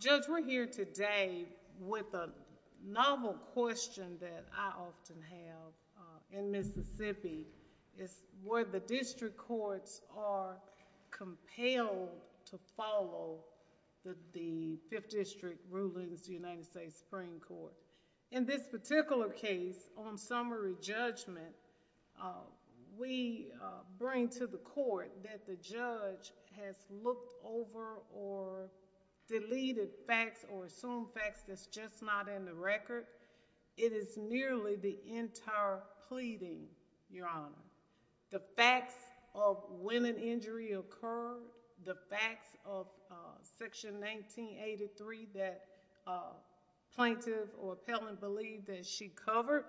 Judge, we are here today with a novel question that I often have in Mississippi, where the district courts are compelled to follow the Fifth District rulings of the United States Supreme Court. In this particular case, on summary judgment, we bring to the court that the judge has looked over or deleted facts or assumed facts that's just not in the record. It is nearly the entire pleading, Your Honor. The facts of when an injury occurred, the facts of Section 1983 that plaintiff or appellant believed that she covered,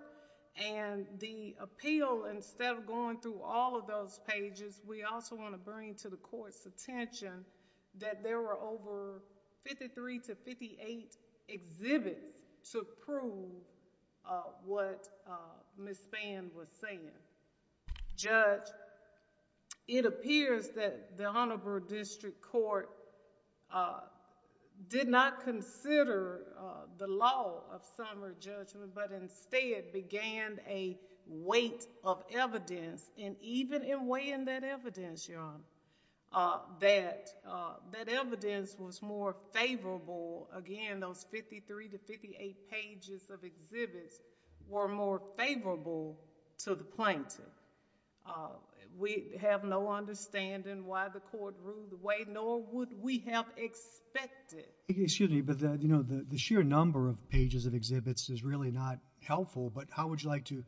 and the appeal, instead of going through all of those pages, we also want to bring to the court's attention that there were over 53 to 58 exhibits to prove what Ms. Spann was saying. Judge, it appears that the Honorable District Court did not consider the law of summary judgment, but instead began a weight of evidence, and even in weighing that evidence, Your Honor, that evidence was more favorable, again, those 53 to 58 pages of exhibits were more favorable to the plaintiff. We have no understanding why the court ruled the way, nor would we have expected... Excuse me, but the sheer number of pages of exhibits is really not helpful, but how would you like to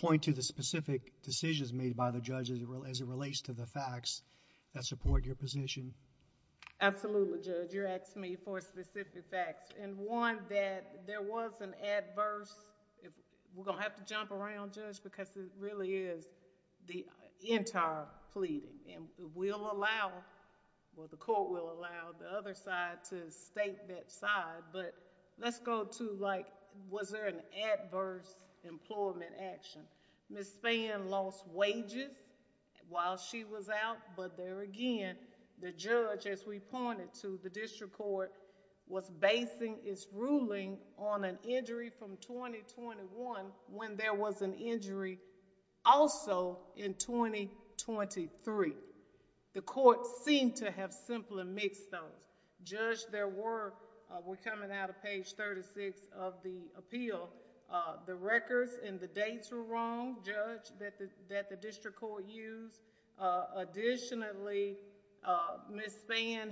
point to the specific decisions made by the judge as it relates to the facts that support your position? Absolutely, Judge. You're asking me for specific facts, and one, that there was an adverse... we're going to have to jump around, Judge, because it really is the entire pleading, and we'll allow, or the court will allow the other side to state that side, but let's go to, like, was there an adverse employment action? Ms. Spann lost wages while she was out, but there again, the judge, as we pointed to, the district court was basing its ruling on an injury from 2021 when there was an injury also in 2023. The court seemed to have simply mixed those. Judge, there were... we're coming out of page 36 of the appeal. The records and the dates were wrong, Judge, that the district court used. Additionally, Ms. Spann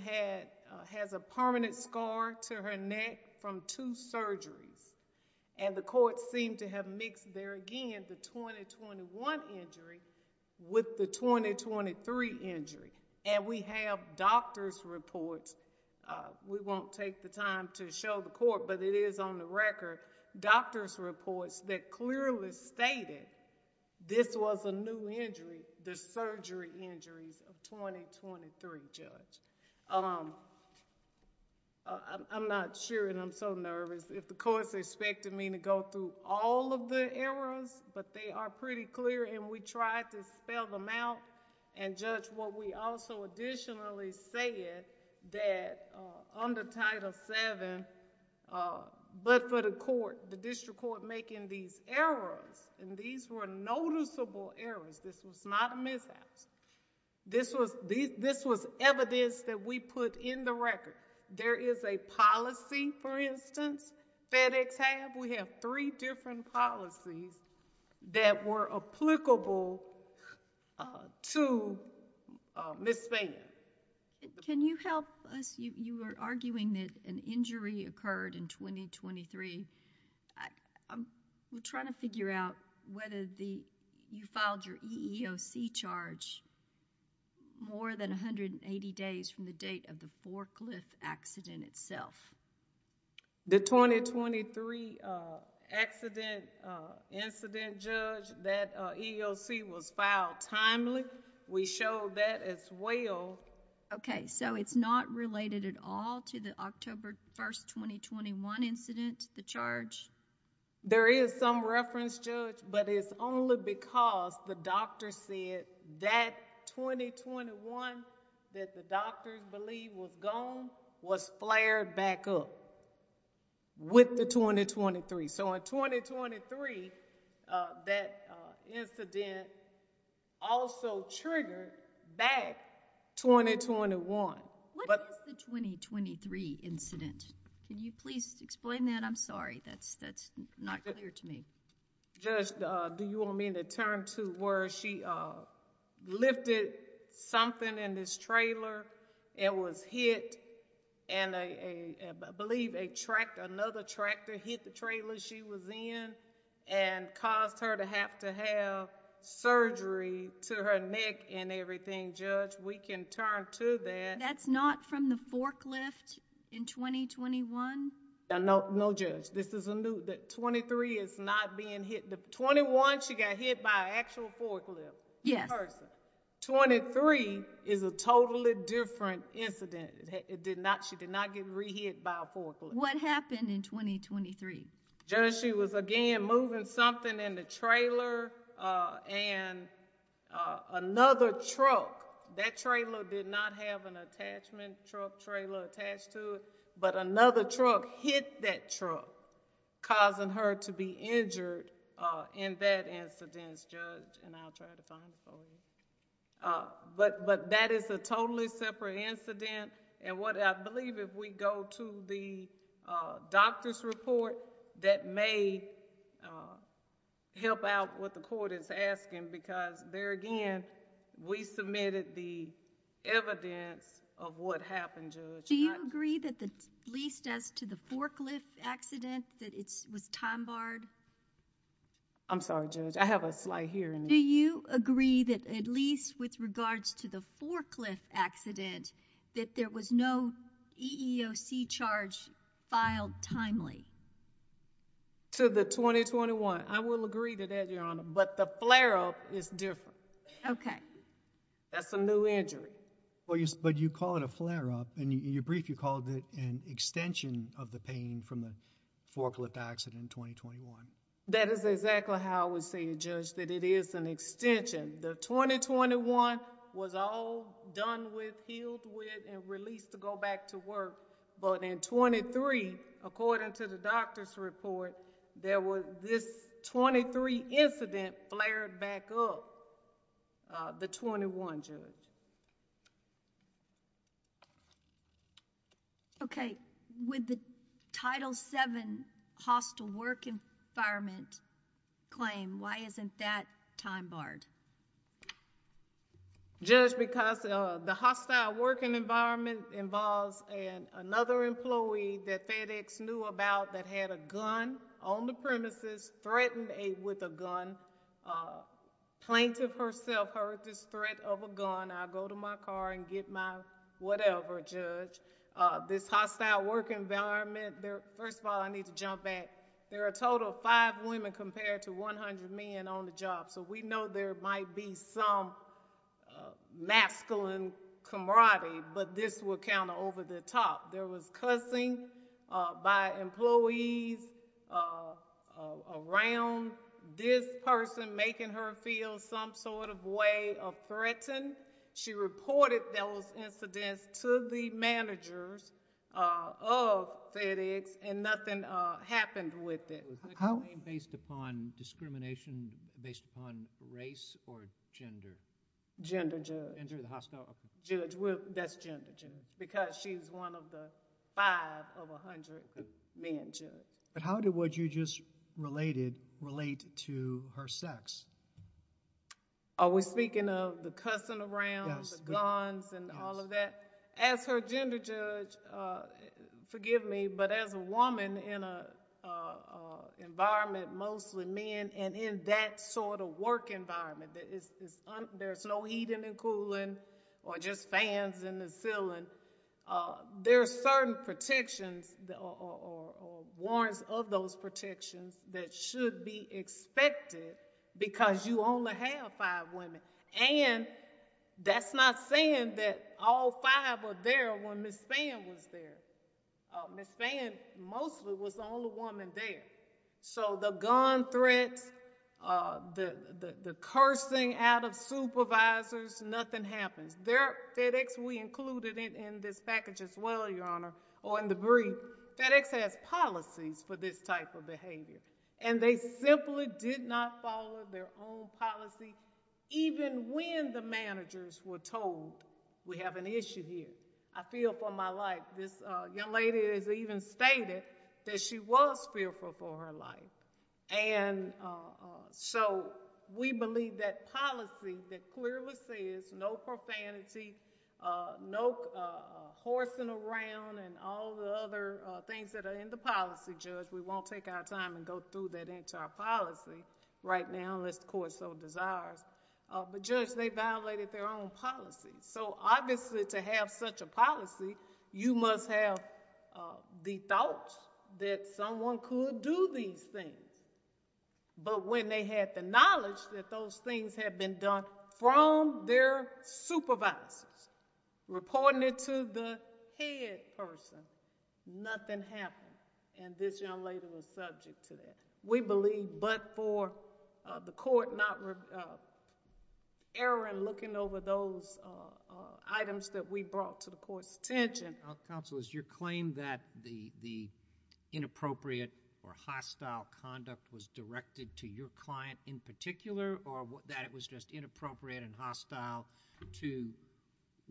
has a permanent scar to her neck from two surgeries, and the court seemed to have mixed there again the 2021 injury with the 2023 injury, and we have doctor's reports. We won't take the time to show the court, but it is on the record, doctor's reports that clearly stated this was a new injury, the surgery injuries of 2023, Judge. I'm not sure, and I'm so nervous, if the court's expecting me to go through all of the errors, but they are pretty clear, and we tried to spell them out and judge what we also additionally said that under Title VII, but for the court, the district court making these errors, and these were noticeable errors, this was not a mishap. This was evidence that we put in the record. There is a policy, for instance, FedEx have. We have three different policies that were applicable to Ms. Spann. Can you help us? You were arguing that an injury occurred in 2023. I'm trying to figure out whether you filed your EEOC charge more than 180 days from the date of the forklift accident itself. The 2023 accident incident, Judge, that EEOC was filed timely. We showed that as well. Okay, so it's not related at all to the October 1st, 2021 incident, the charge? There is some reference, Judge, but it's only because the doctor said that 2021 that the doctors believe was gone was flared back up with the 2023. In 2023, that incident also triggered back 2023. What is the 2023 incident? Can you please explain that? I'm sorry, that's not clear to me. Judge, do you want me to turn to where she lifted something in this trailer, it was hit, and I believe another tractor hit the trailer she was in and caused her to have to have surgery to her neck and everything, Judge? We can turn to that. That's not from the forklift in 2021? No, Judge. This is a new... The 23 is not being hit. The 21, she got hit by an actual forklift. Yes. The person. 23 is a totally different incident. It did not... She did not get re-hit by a forklift. What happened in 2023? Judge, she was again moving something in the trailer and another truck. That trailer did not have an attachment truck trailer attached to it, but another truck hit that truck, causing her to be injured in that incident, Judge. I'll try to find it for you. That is a totally separate incident. I believe if we go to the doctor's report, that may help out what the court is doing. I've submitted the evidence of what happened, Judge. Do you agree that at least as to the forklift accident, that it was time barred? I'm sorry, Judge. I have a slight hearing issue. Do you agree that at least with regards to the forklift accident, that there was no EEOC charge filed timely? To the 2021. I will agree to that, Your Honor, but the flare-up is different. Okay. That's a new injury. You call it a flare-up. In your brief, you called it an extension of the pain from the forklift accident in 2021. That is exactly how I would say it, Judge, that it is an extension. The 2021 was all done with, healed with, and released to go back to work, but in 23, according to the doctor's report, this 23 incident flared back up. The 21, Judge. Okay. With the Title VII hostile work environment claim, why isn't that time barred? Judge, because the hostile working environment involves another employee that FedEx knew about that had a gun on the premises, threatened with a gun, plaintiff herself heard this threat of a gun. I'll go to my car and get my whatever, Judge. This hostile work environment, first of all, I need to jump back. There are a total of five women compared to 100 men on the job, so we know there might be some masculine camaraderie, but this would count over the top. There was cussing by employees around this person making her feel some sort of way of threatening. She reported those incidents to the managers of FedEx and nothing happened with it. Was that claim based upon discrimination, based upon race or gender? Gender, Judge. Gender, the hostile... Judge, that's gender, Judge, because she's one of the five of 100 men, How did what you just related relate to her sex? Are we speaking of the cussing around? The guns and all of that? Yes. As her gender, Judge, forgive me, but as a woman in an environment, mostly men, and in that sort of work environment, there's no heating and cooling or just fans in the ceiling. There are certain protections or warrants of those protections that should be expected because you only have five women, and that's not saying that all five were there when Ms. Fann was there. Ms. Fann, mostly, was the only woman there. The gun threats, the cursing out of supervisors, nothing happens. There at FedEx, we included it in this package as well, Your Honor, or in the brief. FedEx has policies for this type of behavior, and they simply did not follow their own policy even when the managers were told, we have an issue here. I feel for my life. This young lady has even stated that she was fearful for her life. We believe that policy that clearly says no profanity, no horsing around and all the other things that are in the policy, Judge. We won't take our time and go through that entire policy right now unless the court so desires. Judge, they violated their own policy. Obviously, to have such a policy, you must have the thought that someone could do these things, but when they had the knowledge that those things had been done from their supervisors, reporting it to the head person, nothing happened, and this young lady was subject to that. We believe, but for the court not erring looking over those items that we brought to the court's attention... Counsel, is your claim that the inappropriate or hostile conduct was directed to your client in particular or that it was just inappropriate and hostile to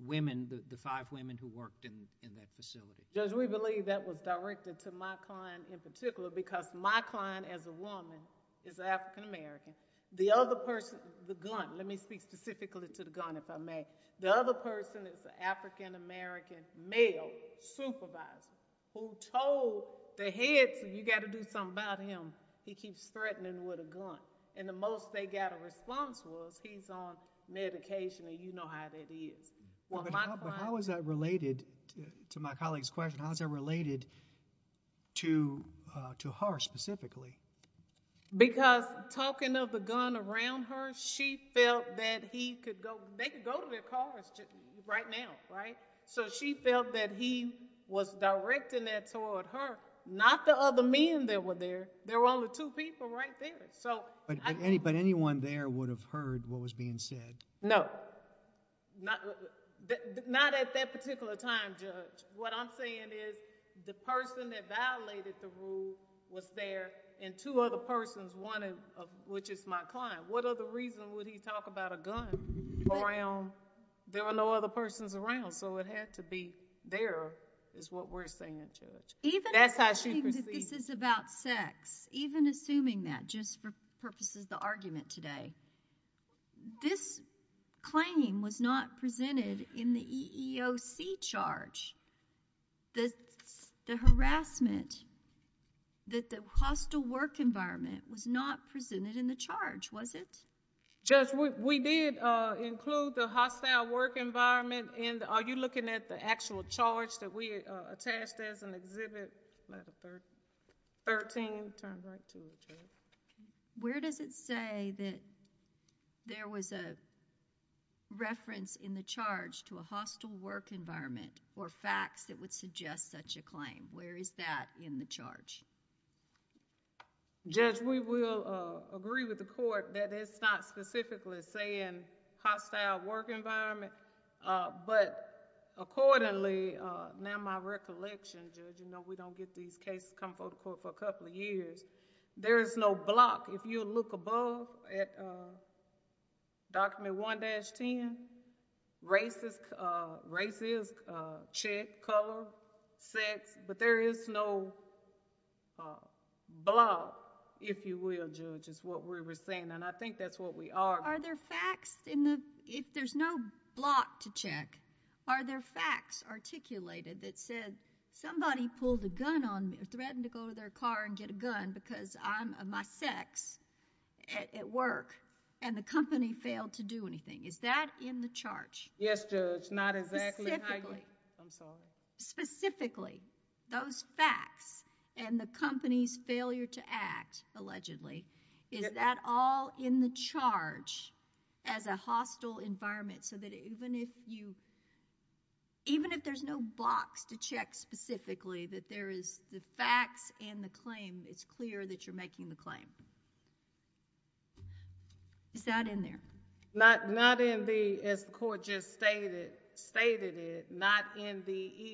women, the five women who worked in that facility? Judge, we believe that was directed to my client in particular because my client as a woman is African American. The other person, the gun, let me speak specifically to the gun if I may. The other person is an African American male supervisor who told the head you got to do something about him. He keeps threatening with a gun, and the most they got a response was he's on medication and you know how that is. My client... Because talking of the gun around her, she felt that he could go... They could go to their cars right now, right? So she felt that he was directing that toward her, not the other men that were there. There were only two people right there. But anyone there would have heard what was being said? No. Not at that particular time, Judge. What I'm saying is the person that violated the rule was there and two other persons, one of which is my client. What other reason would he talk about a gun around... There were no other persons around, so it had to be there is what we're saying, Judge. That's how she perceived it. Even assuming that this is about sex, even assuming that, just for purposes of the argument today, this claim was not presented in the EEOC charge. The harassment, that the hostile work environment was not presented in the charge, was it? Judge, we did include the hostile work environment in... Are you looking at the actual charge that we attached as an exhibit? Letter 13. 13 turns right to you, Judge. Where does it say that there was a reference in the charge to a hostile work environment or facts that would suggest such a claim? Where is that in the charge? Judge, we will agree with the court that it's not specifically saying hostile work environment, but accordingly, now my recollection, Judge, we don't get these cases come before the court for a couple of years. There is no block. If you look above at Document 1-10, racist check, color, sex, but there is no block, if you will, Judge, is what we were saying, and I think that's what we are. Are there facts in the... if there's no block to check, are there facts articulated that said somebody pulled a gun on... because of my sex at work and the company failed to do anything? Is that in the charge? Yes, Judge. Not exactly how you... I'm sorry. Specifically, those facts and the company's failure to act, allegedly, is that all in the charge as a hostile environment so that even if you... even if there's no blocks to check specifically, that there is the facts and the claim, it's clear that you're making the claim. Is that in there? Not in the... as the court just stated it, not in the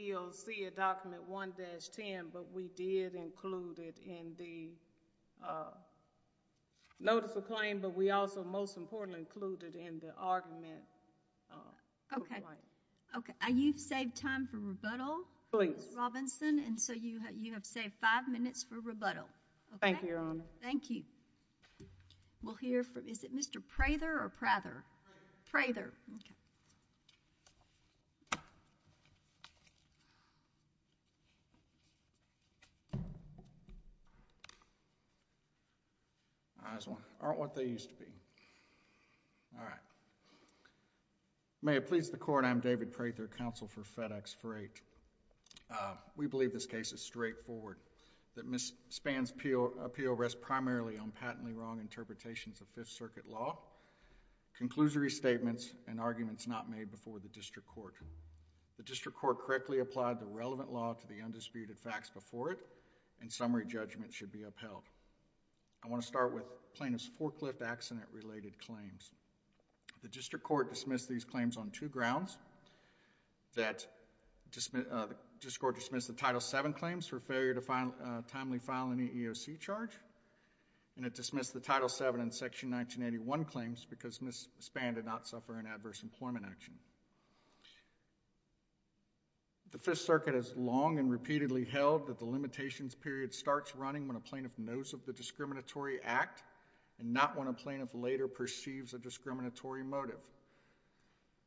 EEOC of Document 1-10, but we did include it in the notice of claim, but we also, most importantly, included in the argument. Okay. Okay. You've saved time for rebuttal. Please. Thank you, Mr. Robinson, and so you have saved five minutes for rebuttal. Thank you, Your Honor. Thank you. We'll hear from... is it Mr. Prather or Prather? Those aren't what they used to be. All right. May it please the court. I'm David Prather, counsel for FedEx for eight. We believe this case is straightforward. That Ms. Spann's appeal rests primarily on patently wrong interpretations of Fifth Circuit law, conclusory statements, and arguments not made before the district court. The district court correctly applied the relevant law to the undisputed facts before it, and summary judgment should be upheld. I want to start with plaintiff's forklift accident-related claims. The district court dismissed these claims on two grounds. The district court dismissed the Title VII claims for failure to timely file an EEOC charge, and it dismissed the Title VII and Section 1981 claims because Ms. Spann did not suffer an adverse employment action. The Fifth Circuit has long and repeatedly held that the limitations period starts running when a plaintiff knows of the discriminatory act and not when a plaintiff later perceives a discriminatory motive.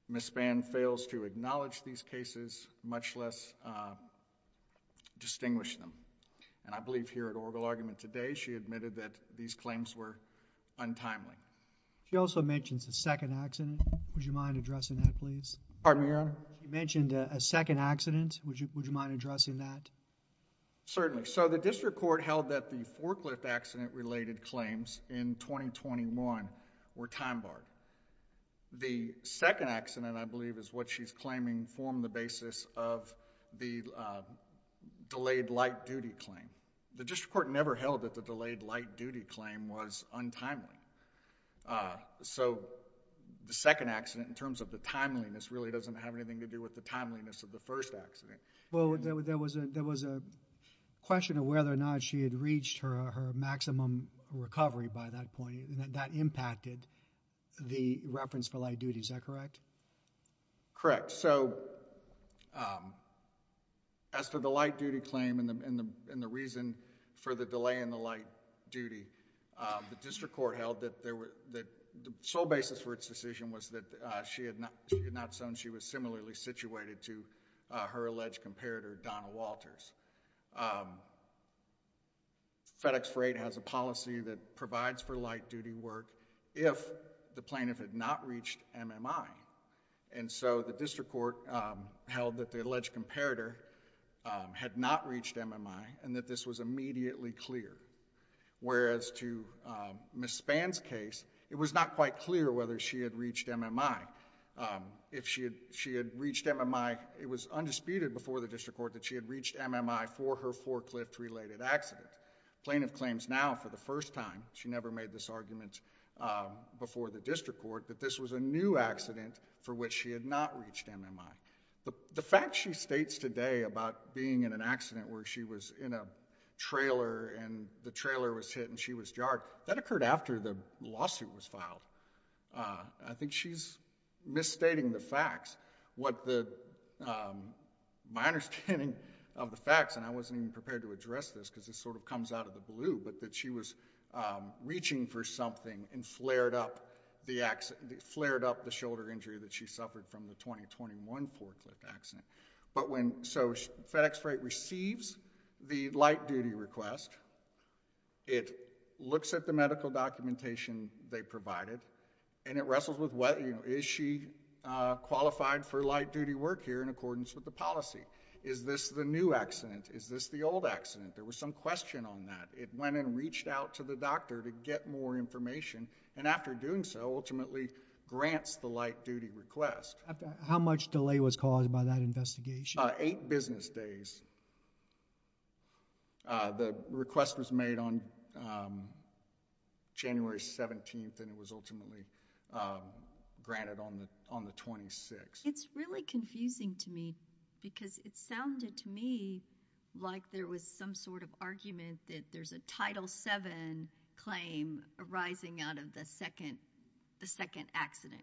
Ms. Spann fails to acknowledge these cases, much less distinguish them. I believe here at oral argument today, she admitted that these claims were untimely. She also mentions a second accident. Would you mind addressing that please? Pardon me, Your Honor? You mentioned a second accident. Would you mind addressing that? Certainly. So the district court held that the forklift accident-related claims in 2021 were time-barred. The second accident, I believe is what she's claiming, formed the basis of the delayed light-duty claim. The district court never held that the delayed light-duty claim was untimely. So the second accident, in terms of the timeliness, really doesn't have anything to do with the timeliness of the first accident. Well, there was a question of whether or not she had reached her maximum recovery by that point. That impacted the reference for light-duty. Is that correct? Correct. So, as for the light-duty claim and the reason for the delay in the light-duty, the district court held that the sole basis for its decision was that she had not shown she was similarly situated to her alleged comparator, Donna Walters. FedEx for Eight has a policy that provides for light-duty work if the plaintiff had not reached MMI. So the district court held that the alleged comparator had not reached MMI and that this was immediately clear. Whereas to Ms. Spann's case, it was not quite clear whether she had reached MMI. If she had reached MMI, it was undisputed before the district court that she had reached MMI for her forklift-related accident. Plaintiff claims now for the first time, she never made this argument before the district court, that this was a new accident for which she had not reached MMI. The fact she states today about being in an accident where she was in a trailer and the trailer was hit and she was jarred, that occurred after the lawsuit was filed. I think she's misstating the facts. My understanding of the facts, and I wasn't even prepared to address this because this sort of comes out of the blue, but that she was reaching for something and flared up the shoulder injury that she suffered from the 2021 forklift accident. So FedEx Freight receives the light-duty request. It looks at the medical documentation they provided, and it wrestles with is she qualified for light-duty work here in accordance with the policy? Is this the new accident? Is this the old accident? There was some question on that. It went and reached out to the doctor to get more information, and after doing so, ultimately grants the light-duty request. How much delay was caused by that investigation? Eight business days. The request was made on January 17th, and it was ultimately granted on the 26th. It's really confusing to me because it sounded to me like there was some sort of argument that there's a Title VII claim arising out of the second accident,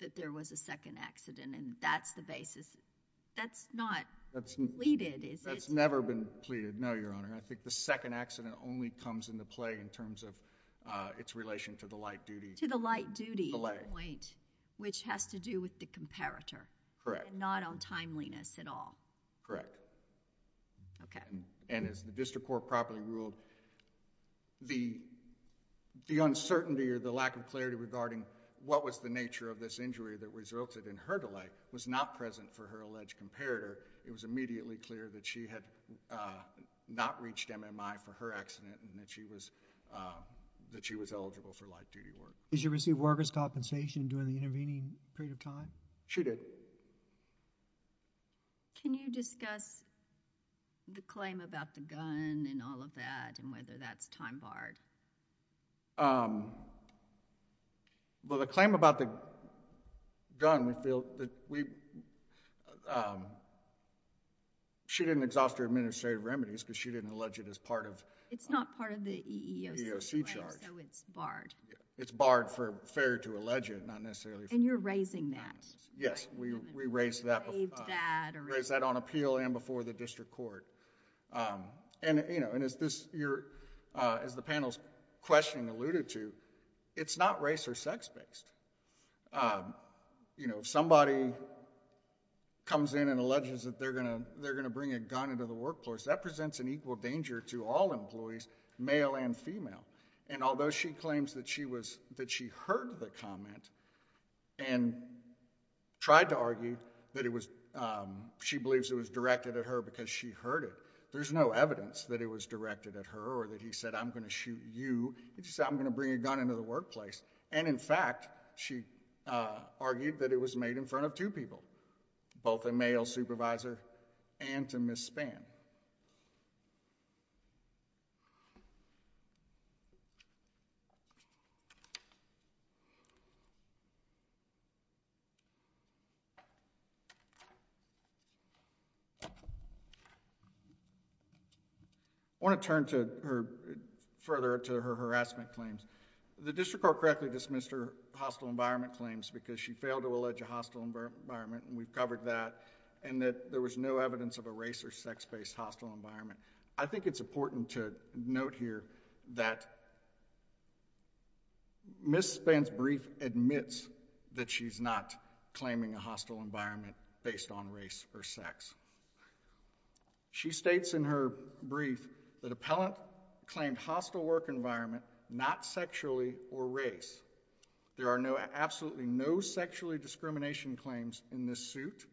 that there was a second accident, and that's the basis. That's not pleaded, is it? That's never been pleaded, no, Your Honor. I think the second accident only comes into play in terms of its relation to the light-duty delay. To the light-duty point, which has to do with the comparator. Correct. And not on timeliness at all. Correct. Okay. And as the district court properly ruled, the uncertainty or the lack of clarity regarding what was the nature of this injury that resulted in her delay was not present for her alleged comparator. It was immediately clear that she had not reached MMI for her accident and that she was eligible for light-duty work. Did she receive workers' compensation during the intervening period of time? She did. Can you discuss the claim about the gun and all of that and whether that's time barred? Well, the claim about the gun, we feel that we... she didn't exhaust her administrative remedies because she didn't allege it as part of... It's not part of the EEOC charge, so it's barred. It's barred for failure to allege it, not necessarily... And you're raising that. Yes. We raised that on appeal and before the district court. And as the panel's questioning alluded to, it's not race or sex-based. If somebody comes in and alleges that they're going to bring a gun into the workforce, that presents an equal danger to all employees, male and female, and although she claims that she heard the comment and tried to refute it, there's no evidence that it was directed at her or that he said, I'm going to shoot you. He just said, I'm going to bring a gun into the workplace. And in fact, she argued that it was made in front of two people, both a male supervisor and to Ms. Spann. I want to turn further to her harassment claims. The district court correctly dismissed her hostile environment claims because she failed to allege a hostile environment, and we've covered that, and that there was no evidence of a race or sex-based hostile environment. I think it's important to note here that Ms. Spann's brief admits that she's not claiming a hostile environment based on race or sex. She states in her brief that appellant claimed hostile work environment, not sexually or race. There are absolutely no sexually discrimination claims in this suit,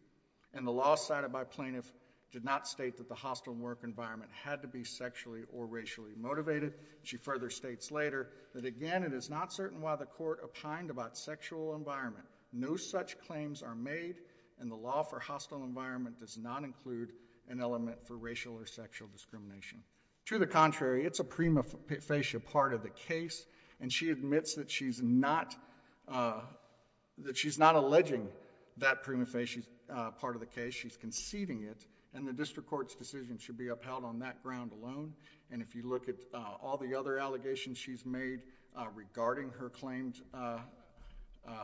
and the law cited by plaintiff did not state that the hostile work environment had to be sexually or racially motivated. She further states later that, again, it is not certain why the court opined about sexual environment. No such claims are made, and the law for hostile environment does not include an element for racial or sexual discrimination. To the contrary, it's a prima facie part of the case, and she admits that she's not alleging that prima facie part of the case. She's conceding it, and the district court's decision should be upheld on that ground alone. And if you look at all the other allegations she's made regarding her claimed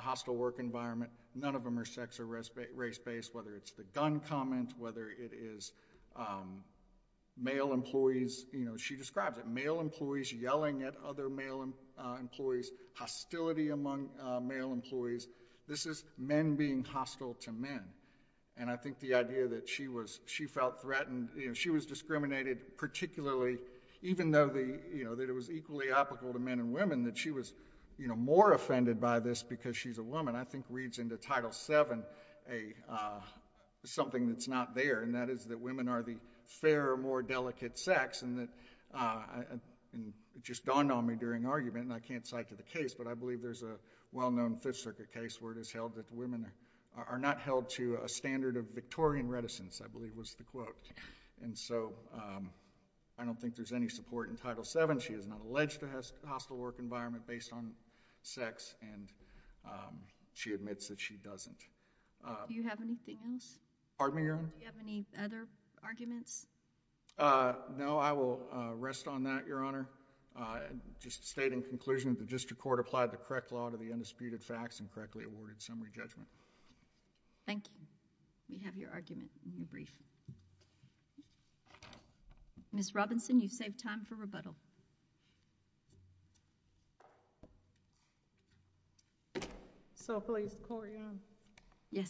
hostile work environment, none of them are sex or race-based, whether it's the gun comment, whether it is male employees. She describes it, male employees yelling at other male employees, hostility among male employees. This is men being hostile to men. And I think the idea that she felt threatened, she was discriminated, particularly even though it was equally applicable to men and women, that she was more offended by this because she's a woman, I think reads into Title VII something that's not there, and that is that women are the fairer, more delicate sex. And it just dawned on me during argument, and I can't cite to the case, but I believe there's a well-known Fifth Circuit case where it is held that women are not held to a standard of Victorian reticence, I believe was the quote. And so I don't think there's any support in Title VII. She is not alleged to have a hostile work environment based on sex, and she admits that she doesn't. Do you have anything else? Pardon me, Your Honor? Do you have any other arguments? No, I will rest on that, Your Honor. Just to state in conclusion, the district court applied the correct law to the undisputed facts and correctly awarded summary judgment. Thank you. We have your argument in your brief. Ms. Robinson, you've saved time for rebuttal. So please, Court, Your Honor. Yes.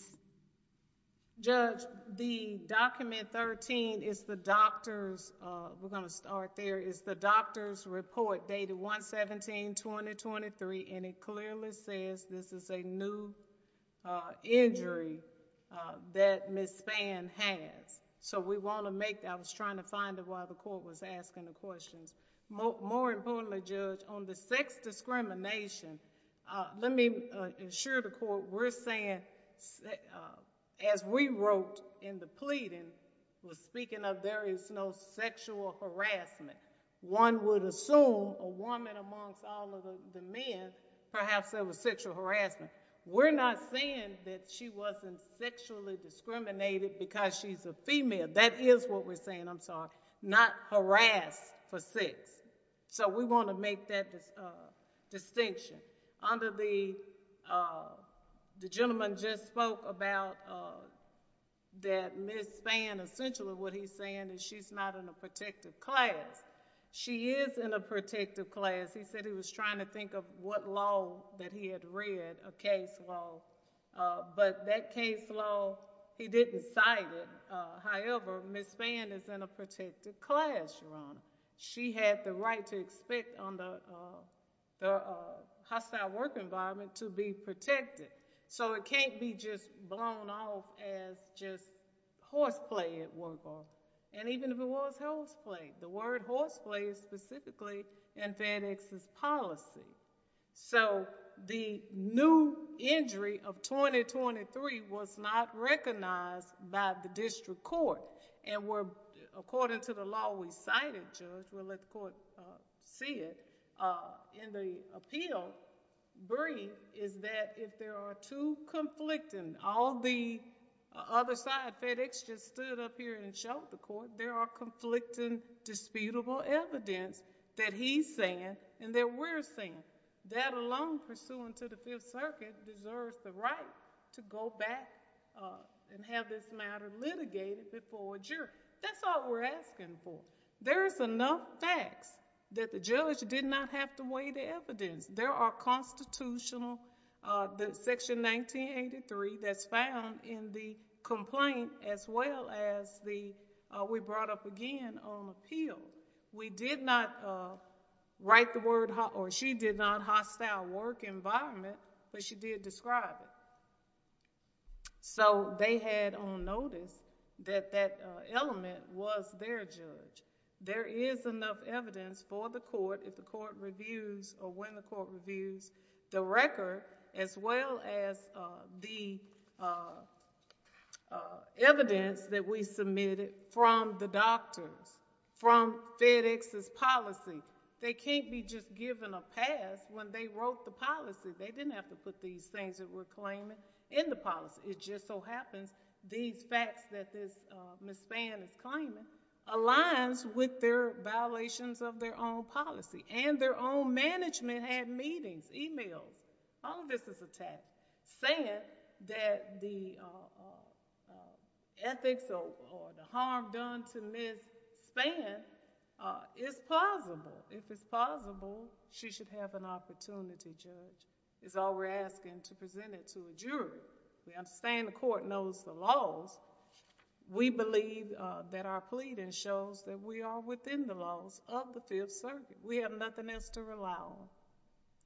Judge, the document 13 is the doctor's, we're going to start there, is the doctor's report dated 1-17-2023, and it clearly says this is a new injury that Ms. Spann has. So we want to make that. I was trying to find it while the court was asking the questions. More importantly, Judge, on the sex discrimination, let me assure the court we're saying, as we wrote in the pleading, we're speaking of there is no sexual harassment. One would assume a woman amongst all of the men, perhaps there was sexual harassment. We're not saying that she wasn't sexually discriminated because she's a female. That is what we're saying, I'm sorry. Not harassed for sex. So we want to make that distinction. Under the gentleman just spoke about that Ms. Spann, essentially what he's saying is she's not in a protective class. She is in a protective class. He said he was trying to think of what law that he had read, a case law. But that case law, he didn't cite it. However, Ms. Spann is in a protective class, Your Honor. She had the right to expect on the hostile work environment to be protected. So it can't be just blown off as just horseplay at work. And even if it was horseplay, the word horseplay is specifically in FedEx's policy. So the new injury of 2023 was not recognized by the district court. And according to the law we cited, Judge, we'll let the court see it, and the appeal brief is that if there are two conflicting, all the other side FedEx just stood up here and showed the court, there are conflicting disputable evidence that he's saying and that we're saying. That alone pursuant to the Fifth Circuit deserves the right to go back and have this matter litigated before a jury. That's all we're asking for. There is enough facts that the judge did not have to weigh the evidence. There are constitutional section 1983 that's found in the complaint as well as we brought up again on appeal. We did not write the word or she did not hostile work environment, but she did describe it. So they had on notice that that element was their judge. There is enough evidence for the court if the court reviews or when the court reviews the record as well as the evidence that we submitted from the doctors, from FedEx's policy. They can't be just given a pass when they wrote the policy. They didn't have to put these things that we're claiming in the policy. It just so happens these facts that Ms. Spann is claiming aligns with their violations of their own policy and their own management had meetings, e-mails. All of this is a test. Saying that the ethics or the harm done to Ms. Spann is plausible. If it's plausible, she should have an opportunity, Judge. It's all we're asking to present it to a jury. We understand the court knows the laws. We believe that our pleading shows that we are within the laws of the Fifth Circuit. We have nothing else to rely on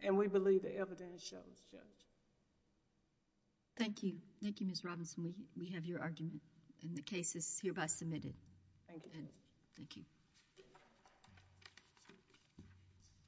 and we believe the evidence shows, Judge. Thank you. Thank you, Ms. Robinson. We have your argument and the case is hereby submitted. Thank you. Thank you. Thank you.